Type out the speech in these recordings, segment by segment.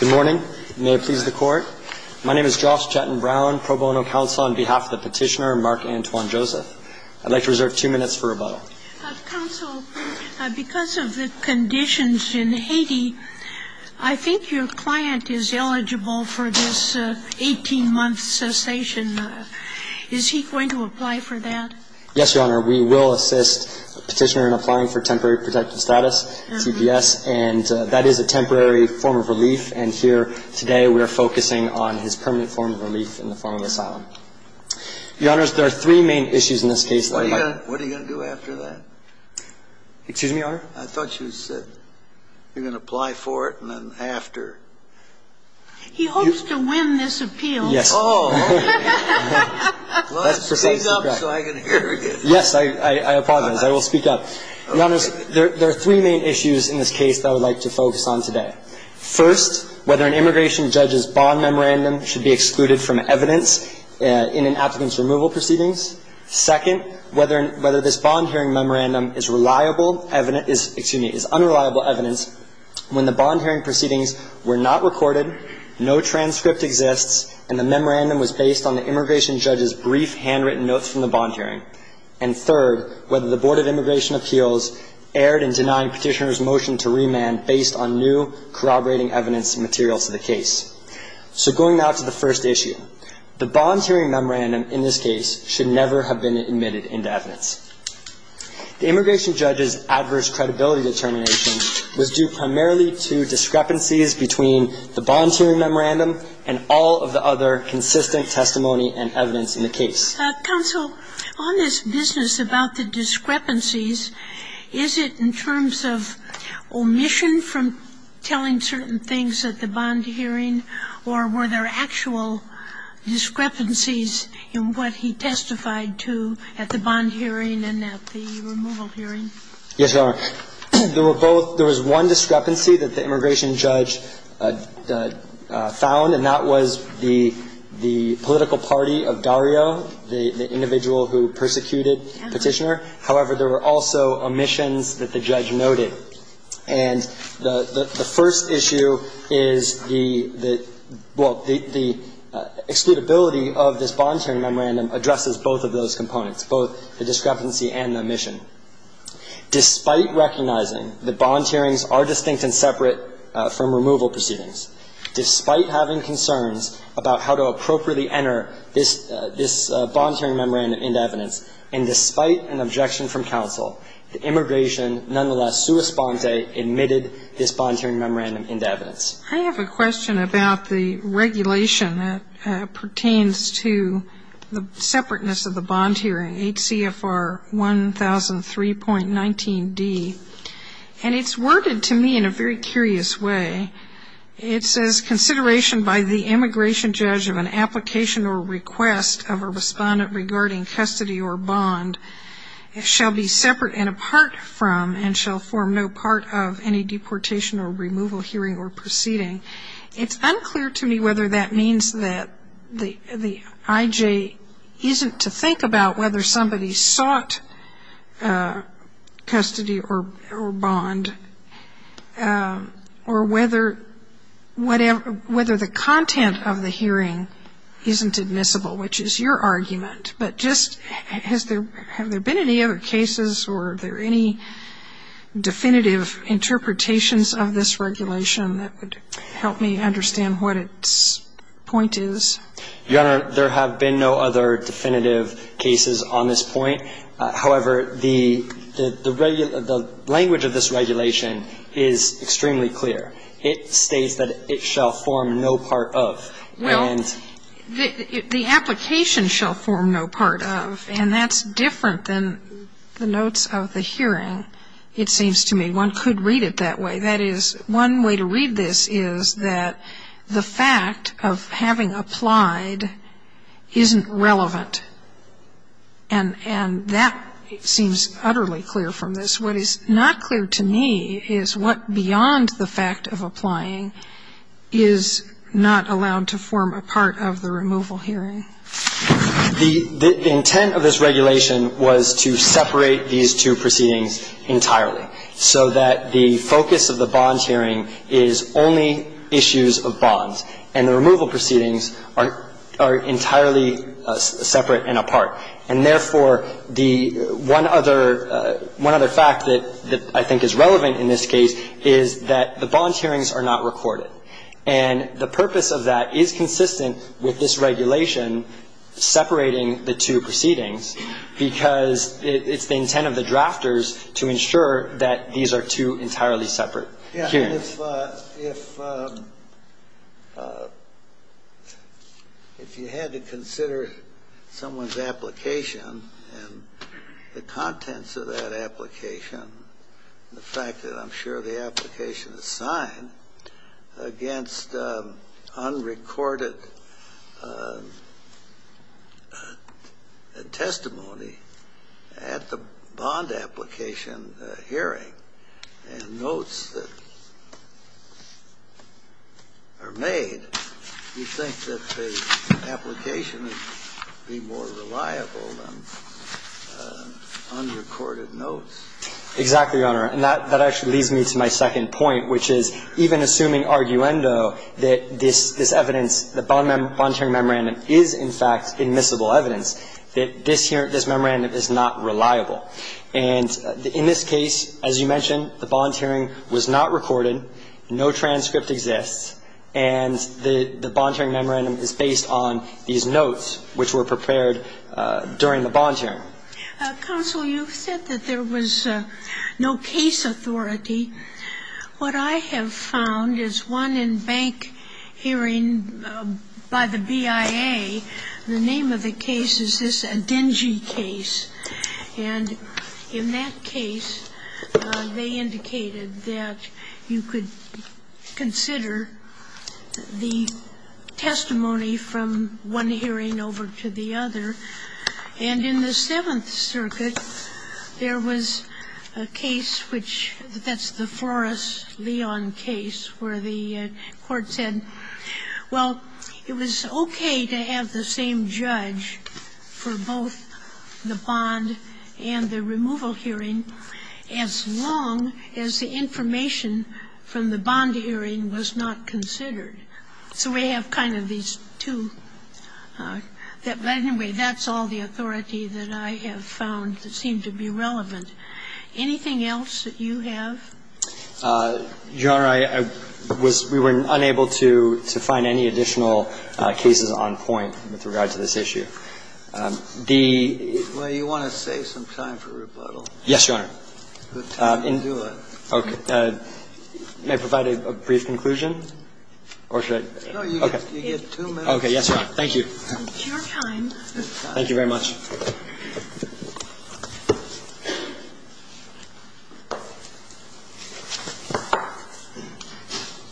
Good morning. May it please the Court. My name is Josh Chattin-Brown, Pro Bono Counsel on behalf of the Petitioner, Mark Antoine Joseph. I'd like to reserve two minutes for rebuttal. Counsel, because of the conditions in Haiti, I think your client is eligible for this 18-month cessation. Is he going to apply for that? Yes, Your Honor. We will assist the Petitioner in applying for temporary protective status, TPS, and that is a temporary form of relief. And here, today, we are focusing on his permanent form of relief in the form of asylum. Your Honors, there are three main issues in this case that I'd like to focus on. What are you going to do after that? Excuse me, Your Honor? I thought you said you're going to apply for it and then after. He hopes to win this appeal. Yes. Oh. That's precisely correct. Well, speak up so I can hear you. Yes, I apologize. I will speak up. Your Honors, there are three main issues in this case that I would like to focus on today. First, whether an immigration judge's bond memorandum should be excluded from evidence in an applicant's removal proceedings. Second, whether this bond hearing memorandum is reliable evidence – excuse me, is unreliable evidence when the bond hearing proceedings were not recorded, no transcript exists, and the memorandum was based on the immigration judge's brief handwritten notes from the bond hearing. And third, whether the Board of Immigration Appeals erred in denying petitioner's motion to remand based on new corroborating evidence and materials to the case. So going now to the first issue. The bond hearing memorandum in this case should never have been admitted into evidence. The immigration judge's adverse credibility determination was due primarily to discrepancies between the bond hearing memorandum and all of the other consistent testimony and evidence in the case. Counsel, on this business about the discrepancies, is it in terms of omission from telling certain things at the bond hearing, or were there actual discrepancies in what he testified to at the bond hearing and at the removal hearing? Yes, Your Honor. There were both – there was one discrepancy that the immigration judge found, and that was the political party of Dario, the individual who persecuted the petitioner. However, there were also omissions that the judge noted. And the first issue is the – well, the excludability of this bond hearing memorandum addresses both of those components, both the discrepancy and the omission. Despite recognizing that bond hearings are distinct and separate from removal proceedings, despite having concerns about how to appropriately enter this bond hearing memorandum into evidence, and despite an objection from counsel, the immigration, nonetheless, correspondent, admitted this bond hearing memorandum into evidence. I have a question about the regulation that pertains to the separateness of the bond hearing, HCFR 1003.19d. And it's worded to me in a very curious way. It says, consideration by the immigration judge of an application or request of a respondent regarding custody or bond shall be separate and apart from and shall form no part of any deportation or removal hearing or proceeding. It's unclear to me whether that means that the IJ isn't to think about whether somebody sought custody or bond or whether the content of the hearing isn't admissible, which is your argument. But just, have there been any other cases or are there any definitive interpretations of this regulation that would help me understand what its point is? Your Honor, there have been no other definitive cases on this point. However, the language of this regulation is extremely clear. It states that it shall form no part of. Well, the application shall form no part of, and that's different than the notes of the hearing, it seems to me. One could read it that way. That is, one way to read this is that the fact of having applied isn't relevant. And that seems utterly clear from this. What is not clear to me is what beyond the fact of applying is not allowed to form a part of the removal hearing. The intent of this regulation was to separate these two proceedings entirely so that the focus of the bonds hearing is only issues of bonds. And the removal proceedings are entirely separate and apart. And, therefore, the one other fact that I think is relevant in this case is that the bonds hearings are not recorded. And the purpose of that is consistent with this regulation separating the two proceedings because it's the intent of the drafters to ensure that these are two entirely separate hearings. And if you had to consider someone's application and the contents of that application and the fact that I'm sure the application is signed against unrecorded testimony at the bond application hearing, and notes that are made, you'd think that the application would be more reliable than unrecorded notes. Exactly, Your Honor. And that actually leads me to my second point, which is, even assuming arguendo that this evidence, the bond hearing memorandum is, in fact, admissible evidence, that this memorandum is not reliable. And in this case, as you mentioned, the bonds hearing was not recorded, no transcript exists, and the bond hearing memorandum is based on these notes which were prepared during the bonds hearing. Counsel, you said that there was no case authority. What I have found is one in bank hearing by the BIA, the name of the case is this Dengie case. And in that case, they indicated that you could consider the testimony from one hearing over to the other. And in the Seventh Circuit, there was a case which that's the Forrest-Leon case where the court said, well, it was okay to have the same judge for both the bond and the removal hearing as long as the information from the bond hearing was not considered. So we have kind of these two. But anyway, that's all the authority that I have found that seemed to be relevant. Anything else that you have? Your Honor, I was we were unable to find any additional cases on point with regard to this issue. The you want to save some time for rebuttal. Yes, Your Honor. Okay. May I provide a brief conclusion? Or should I? Okay. You have two minutes. Okay. Yes, Your Honor. Thank you. It's your time. Thank you very much.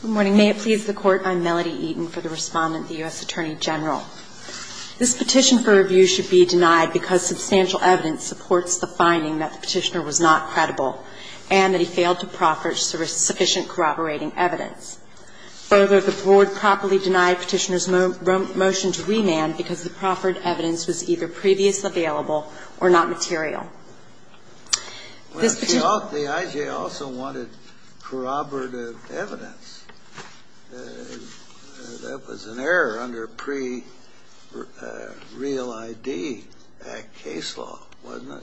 Good morning. May it please the Court. I'm Melody Eaton for the Respondent, the U.S. Attorney General. This petition for review should be denied because substantial evidence supports the finding that the Petitioner was not credible and that he failed to proffer sufficient corroborating evidence. Further, the Board properly denied Petitioner's motion to remand because the proffered evidence was either previously available or not material. This petition. Well, the I.J. also wanted corroborative evidence. That was an error under pre-Real ID Act case law, wasn't it?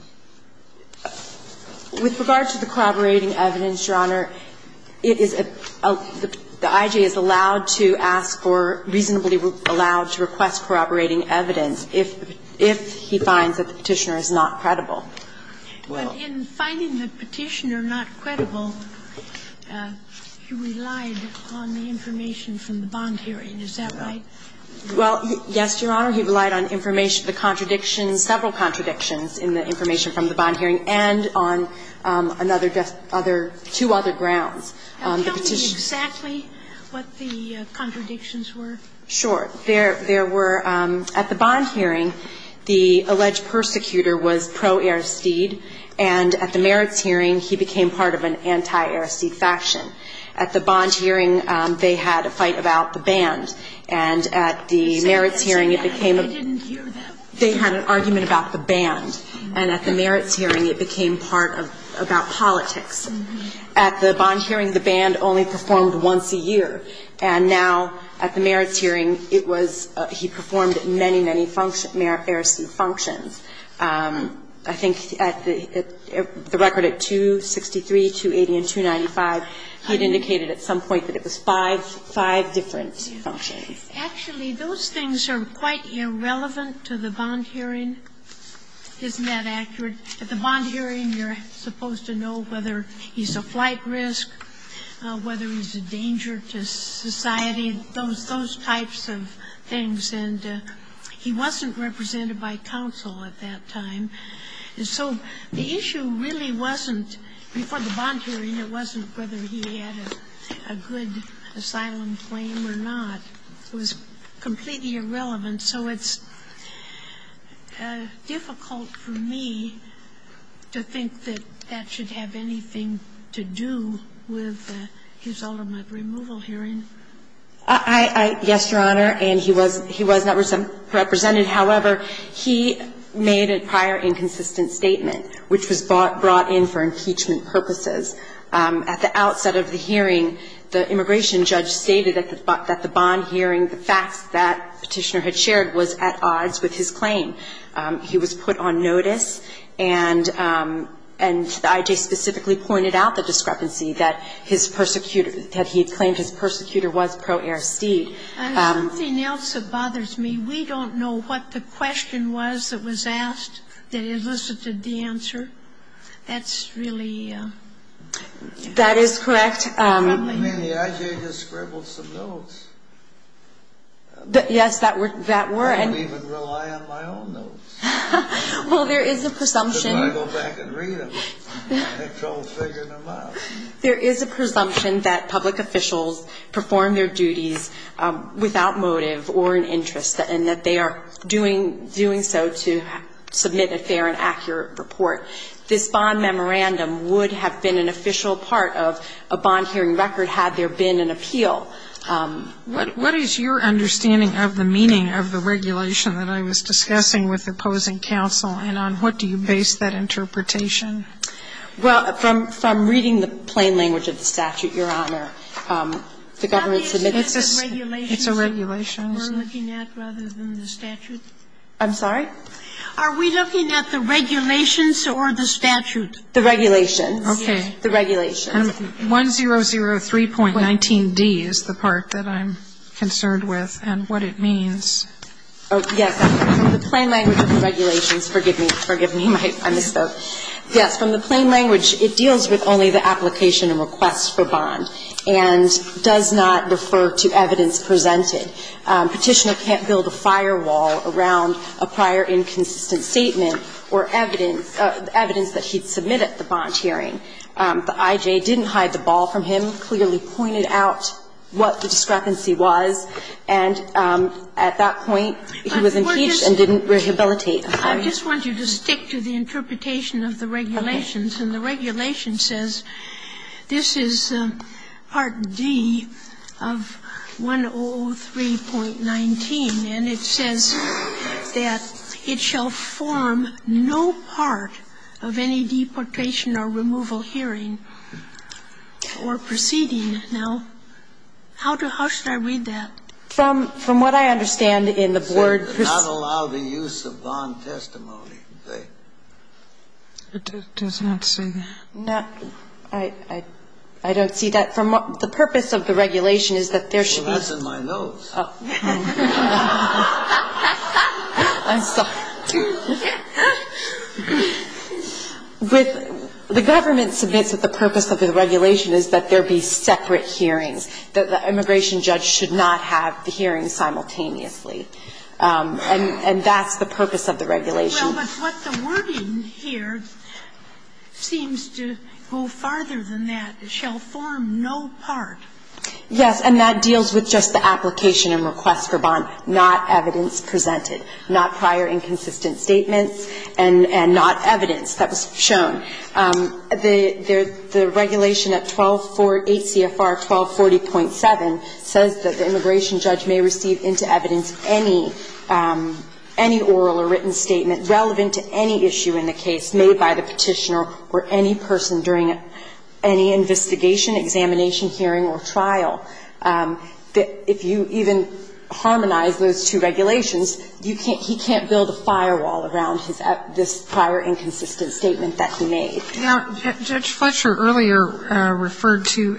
With regard to the corroborating evidence, Your Honor, it is a the I.J. is allowed to ask for, reasonably allowed to request corroborating evidence if he finds that the Petitioner is not credible. But in finding the Petitioner not credible, he relied on the information from the bond hearing. Is that right? Well, yes, Your Honor. He relied on information, the contradictions, several contradictions in the information from the bond hearing and on another, two other grounds. Tell me exactly what the contradictions were. Sure. There were, at the bond hearing, the alleged persecutor was pro-Aristeid, and at the merits hearing, he became part of an anti-Aristeid faction. At the bond hearing, they had a fight about the band, and at the merits hearing, it became a ---- I didn't hear that. They had an argument about the band. And at the merits hearing, it became part of, about politics. At the bond hearing, the band only performed once a year. And now, at the merits hearing, it was, he performed many, many Aristeid functions. I think at the record at 263, 280, and 295, he had indicated at some point that it was five, five different functions. Actually, those things are quite irrelevant to the bond hearing. Isn't that accurate? At the bond hearing, you're supposed to know whether he's a flight risk, whether he's a danger to society, those types of things. And he wasn't represented by counsel at that time. And so the issue really wasn't, before the bond hearing, it wasn't whether he had a good asylum claim or not. It was completely irrelevant. And so it's difficult for me to think that that should have anything to do with his ultimate removal hearing. I ---- Yes, Your Honor. And he was not represented. However, he made a prior inconsistent statement, which was brought in for impeachment purposes. At the outset of the hearing, the immigration judge stated at the bond hearing that he was not present. And the fact that Petitioner had shared was at odds with his claim. He was put on notice, and the I.J. specifically pointed out the discrepancy that his persecutor, that he had claimed his persecutor was pro aristide. And something else that bothers me, we don't know what the question was that was asked that elicited the answer. That's really ---- That is correct. I mean, the I.J. just scribbled some notes. Yes, that were ---- I don't even rely on my own notes. Well, there is a presumption ---- I go back and read them. I have trouble figuring them out. There is a presumption that public officials perform their duties without motive or an interest, and that they are doing so to submit a fair and accurate report. This bond memorandum would have been an official part of a bond hearing record had there been an appeal. What is your understanding of the meaning of the regulation that I was discussing with opposing counsel? And on what do you base that interpretation? Well, from reading the plain language of the statute, Your Honor, the government submits a regulation. It's a regulation. We're looking at rather than the statute? I'm sorry? Are we looking at the regulations or the statute? The regulations. Okay. The regulations. And 1003.19d is the part that I'm concerned with and what it means. Oh, yes. From the plain language of the regulations. Forgive me. Forgive me. I misspoke. Yes. From the plain language, it deals with only the application and request for bond and does not refer to evidence presented. Petitioner can't build a firewall around a prior inconsistent statement or evidence of evidence that he'd submitted at the bond hearing. The I.J. didn't hide the ball from him, clearly pointed out what the discrepancy was, and at that point, he was impeached and didn't rehabilitate. I just want you to stick to the interpretation of the regulations. And the regulation says this is Part D of 1003.19, and it says that it shall form no part of any deportation or removal hearing or proceeding. Now, how should I read that? From what I understand in the board. It does not allow the use of bond testimony. It does not say that. No. I don't see that. The purpose of the regulation is that there should be. Well, that's in my notes. Oh. I'm sorry. With the government submits that the purpose of the regulation is that there be separate hearings, that the immigration judge should not have the hearing simultaneously. And that's the purpose of the regulation. Well, but what the wording here seems to go farther than that. It shall form no part. Yes. And that deals with just the application and request for bond, not evidence presented, not prior inconsistent statements, and not evidence that was shown. The regulation at 1248 CFR 1240.7 says that the immigration judge may receive into evidence any oral or written statement relevant to any issue in the case made by the Petitioner or any person during any investigation, examination, hearing or trial. If you even harmonize those two regulations, he can't build a firewall around this prior inconsistent statement that he made. Now, Judge Fletcher earlier referred to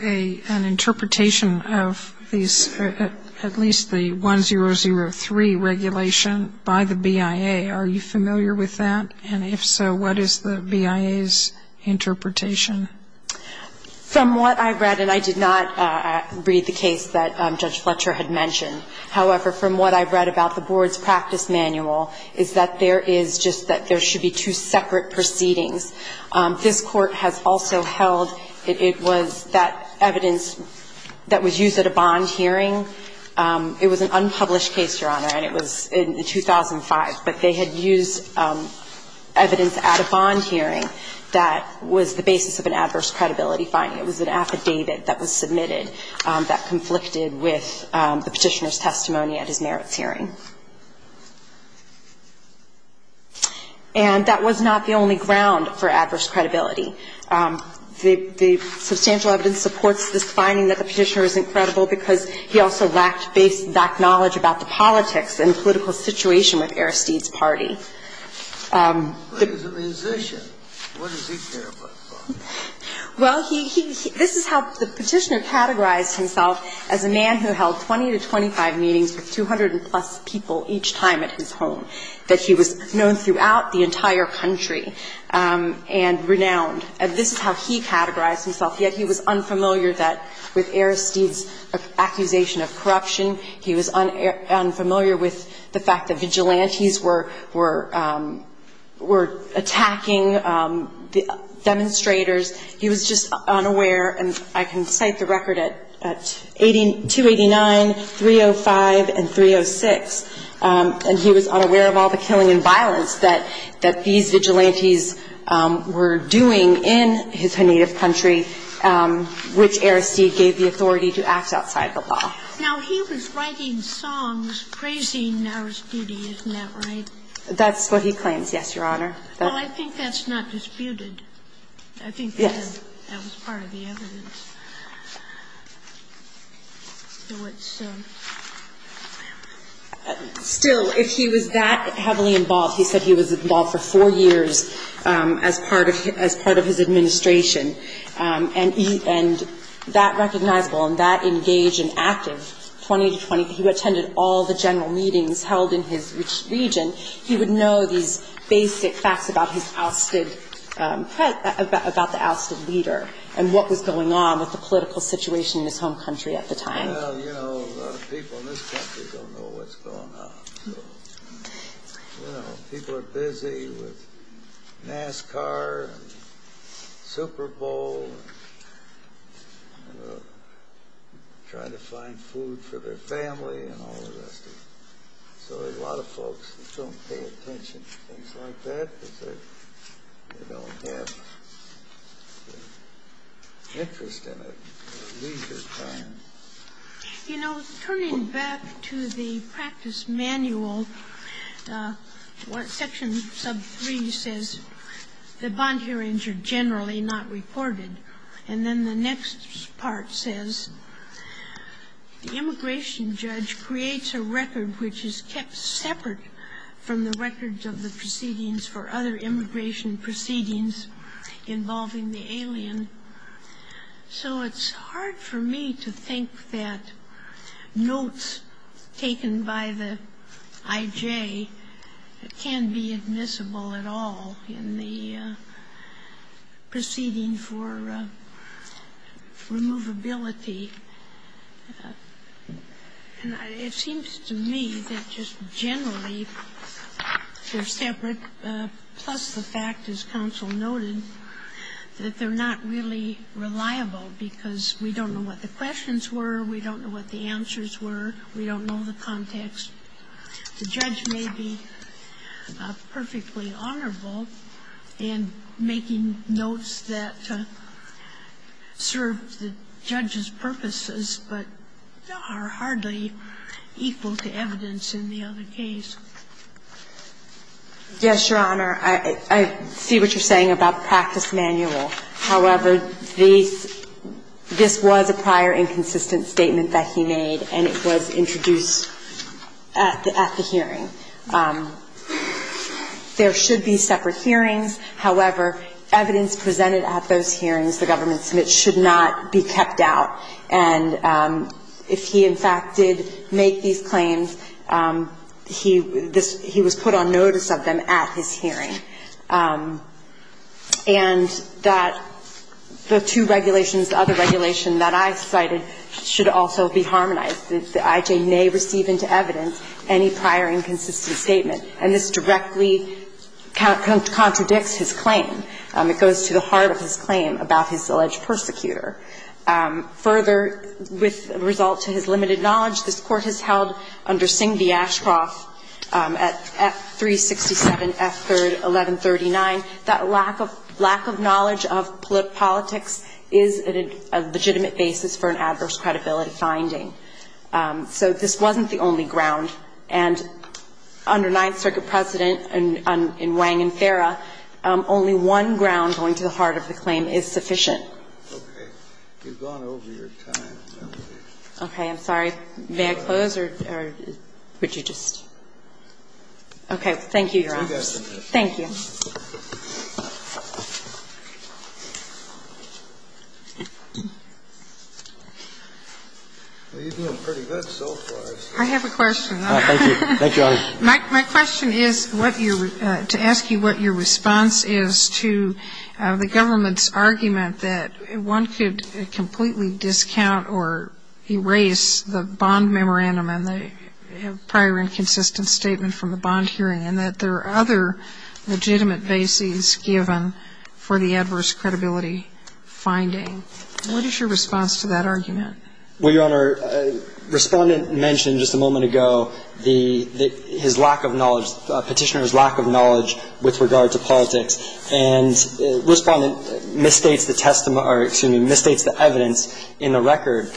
an interpretation of these, at least the 1003 regulation by the BIA. Are you familiar with that? And if so, what is the BIA's interpretation? From what I read, and I did not read the case that Judge Fletcher had mentioned, however, from what I read about the board's practice manual, is that there is just that there should be two separate proceedings. This Court has also held it was that evidence that was used at a bond hearing, it was an unpublished case, Your Honor, and it was in 2005, but they had used evidence at a bond hearing that was the basis of an adverse credibility finding. It was an affidavit that was submitted that conflicted with the Petitioner's testimony at his merits hearing. And that was not the only ground for adverse credibility. The substantial evidence supports this finding that the Petitioner isn't credible because he also lacked back knowledge about the politics and political situation with Aristide's party. The Petitioner categorized himself as a man who held 20 to 25 meetings with 200-plus people each time at his home, that he was known throughout the entire country and renowned, and this is how he categorized himself, yet he was unfamiliar that with Aristide's accusation of corruption, he was unfamiliar with the fact that vigilantes were attacking demonstrators. He was just unaware, and I can cite the record at 289, 305, and 306, and he was unaware of all the killing and violence that these vigilantes were doing in his native country, which Aristide gave the authority to act outside the law. Now, he was writing songs praising Aristide, isn't that right? That's what he claims, yes, Your Honor. Well, I think that's not disputed. Yes. I think that was part of the evidence. Still, if he was that heavily involved, he said he was involved for four years as part of his administration, and that recognizable and that engaged and active, 20 to 25, he attended all the general meetings held in his region. He would know these basic facts about the ousted leader and what was going on with the political situation in his home country at the time. Well, you know, a lot of people in this country don't know what's going on. You know, people are busy with NASCAR and Super Bowl and trying to find food for their family and all the rest of it, so a lot of folks don't pay attention to things like that because they don't have interest in it or leisure time. You know, turning back to the practice manual, Section Sub 3 says that bond hearings are generally not recorded, and then the next part says the immigration judge creates a record which is kept separate from the records of the proceedings for other immigration proceedings involving the alien. So it's hard for me to think that notes taken by the I.J. can be admissible at all in the proceeding for removability. And it seems to me that just generally they're separate, plus the fact, as counsel noted, that they're not really reliable because we don't know what the questions were, we don't know what the answers were, we don't know the context. The judge may be perfectly honorable in making notes that serve the judge's purposes, but are hardly equal to evidence in the other case. Yes, Your Honor. I see what you're saying about the practice manual. However, this was a prior inconsistent statement that he made, and it was introduced at the hearing. There should be separate hearings. However, evidence presented at those hearings, the government submits, should not be kept out. And if he, in fact, did make these claims, he was put on notice of them at his hearing. And that the two regulations, the other regulation that I cited, should also be harmonized. The I.J. may receive into evidence any prior inconsistent statement. And this directly contradicts his claim. It goes to the heart of his claim about his alleged persecutor. Further, with result to his limited knowledge, this Court has held under Singh v. Ashcroft at 367 F. 3rd, 1139, that lack of knowledge of politics is a legitimate basis for an adverse credibility finding. So this wasn't the only ground. And under Ninth Circuit precedent in Wang and Farah, only one ground going to the heart of the claim is sufficient. Okay. You've gone over your time, Melody. Okay. I'm sorry. May I close or would you just? Okay. Thank you, Your Honors. Thank you. You're doing pretty good so far. I have a question. Thank you. Thank you, Your Honors. My question is what your to ask you what your response is to the government's argument that one could completely discount or erase the bond memorandum and the prior inconsistent statement from the bond hearing and that there are other legitimate bases given for the adverse credibility finding. What is your response to that argument? Well, Your Honor, Respondent mentioned just a moment ago the his lack of knowledge, Petitioner's lack of knowledge with regard to politics. And Respondent misstates the testimony or, excuse me, misstates the evidence in the record.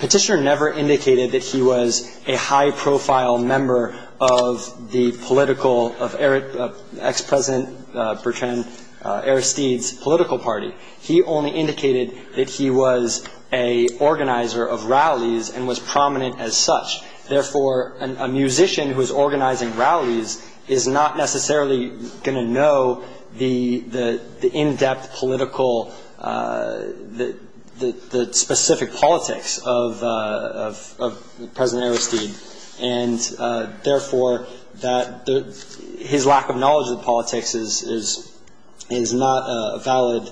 Petitioner never indicated that he was a high-profile member of the political, of ex-President Bertrand Aristide's political party. He only indicated that he was a organizer of rallies and was prominent as such. Therefore, a musician who is organizing rallies is not necessarily going to know the in-depth political, the specific politics of President Aristide. And, therefore, that his lack of knowledge of the politics is not a valid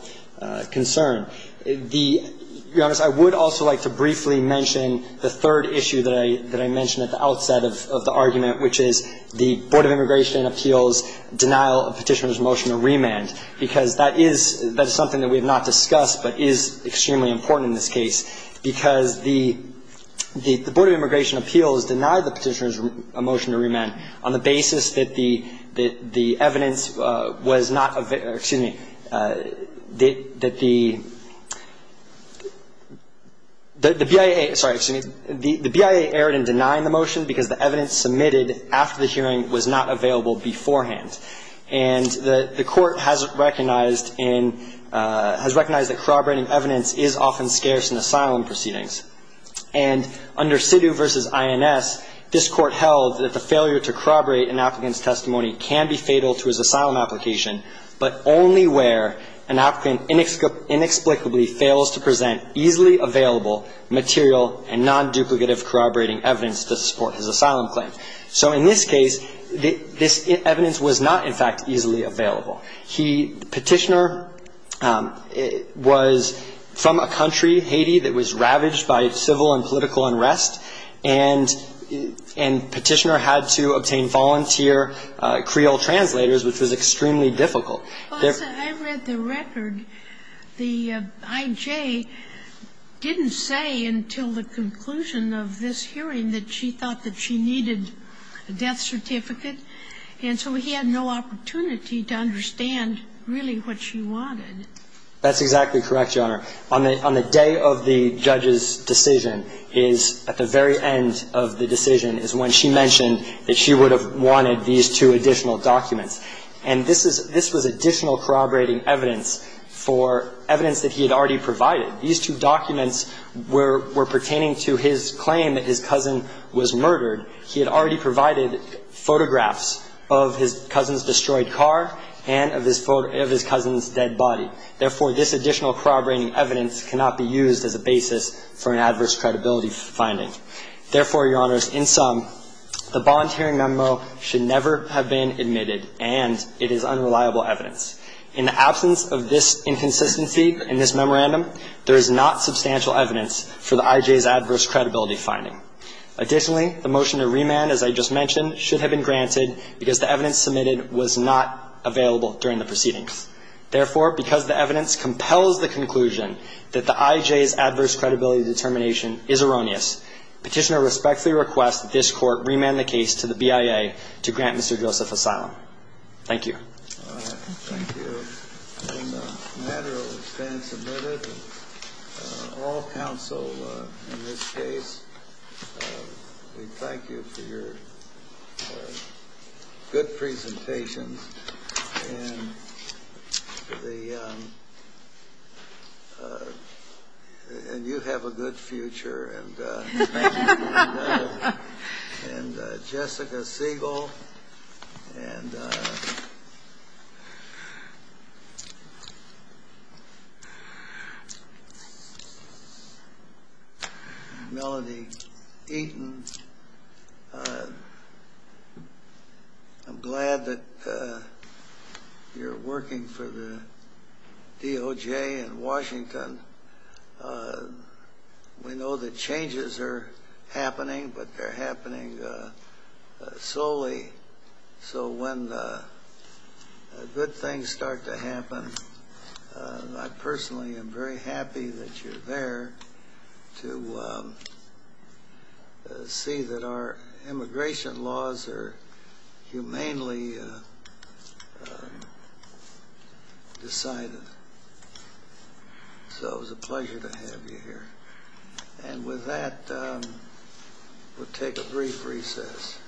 concern. The, Your Honors, I would also like to briefly mention the third issue that I mentioned at the outset of the argument, which is the Board of Immigration Appeals' denial of Petitioner's motion to remand, because that is something that we have not discussed but is extremely important in this case, because the Board of Immigration Appeals denied the Petitioner's motion to remand on the basis that the evidence was not, excuse me, that the BIA, sorry, excuse me, the BIA erred in denying the motion because the evidence submitted after the hearing was not available beforehand. And the court has recognized in, has recognized that corroborating evidence is often scarce in asylum proceedings. And under Sidhu v. INS, this court held that the failure to corroborate an applicant's testimony can be fatal to his asylum application, but only where an applicant inexplicably fails to present easily available material and non-duplicative corroborating evidence to support his asylum claim. So in this case, this evidence was not, in fact, easily available. He, Petitioner, was from a country, Haiti, that was ravaged by civil and political unrest, and Petitioner had to obtain volunteer Creole translators, which was extremely difficult. I read the record. The I.J. didn't say until the conclusion of this hearing that she thought that she needed a death certificate, and so he had no opportunity to understand really what she wanted. That's exactly correct, Your Honor. On the day of the judge's decision is, at the very end of the decision, is when she mentioned that she would have wanted these two additional documents, and this was additional corroborating evidence for evidence that he had already provided. These two documents were pertaining to his claim that his cousin was murdered. He had already provided photographs of his cousin's destroyed car and of his cousin's dead body. Therefore, this additional corroborating evidence cannot be used as a basis for an adverse credibility finding. Therefore, Your Honors, in sum, the volunteering memo should never have been admitted, and it is unreliable evidence. In the absence of this inconsistency in this memorandum, there is not substantial evidence for the I.J.'s adverse credibility finding. Additionally, the motion to remand, as I just mentioned, should have been granted because the evidence submitted was not available during the proceedings. Therefore, because the evidence compels the conclusion that the I.J.'s adverse credibility determination is erroneous, Petitioner respectfully requests that this Court remand the case to the BIA to grant Mr. Joseph asylum. Thank you. Thank you. In the matter of expense admitted, all counsel in this case, we thank you for good presentations, and you have a good future. And Jessica Siegel and Melody Eaton, I'm glad that you're working for the DOJ in Washington. We know that changes are happening, but they're happening slowly. So when good things start to happen, I see that our immigration laws are humanely decided. So it was a pleasure to have you here. And with that, we'll take a brief recess.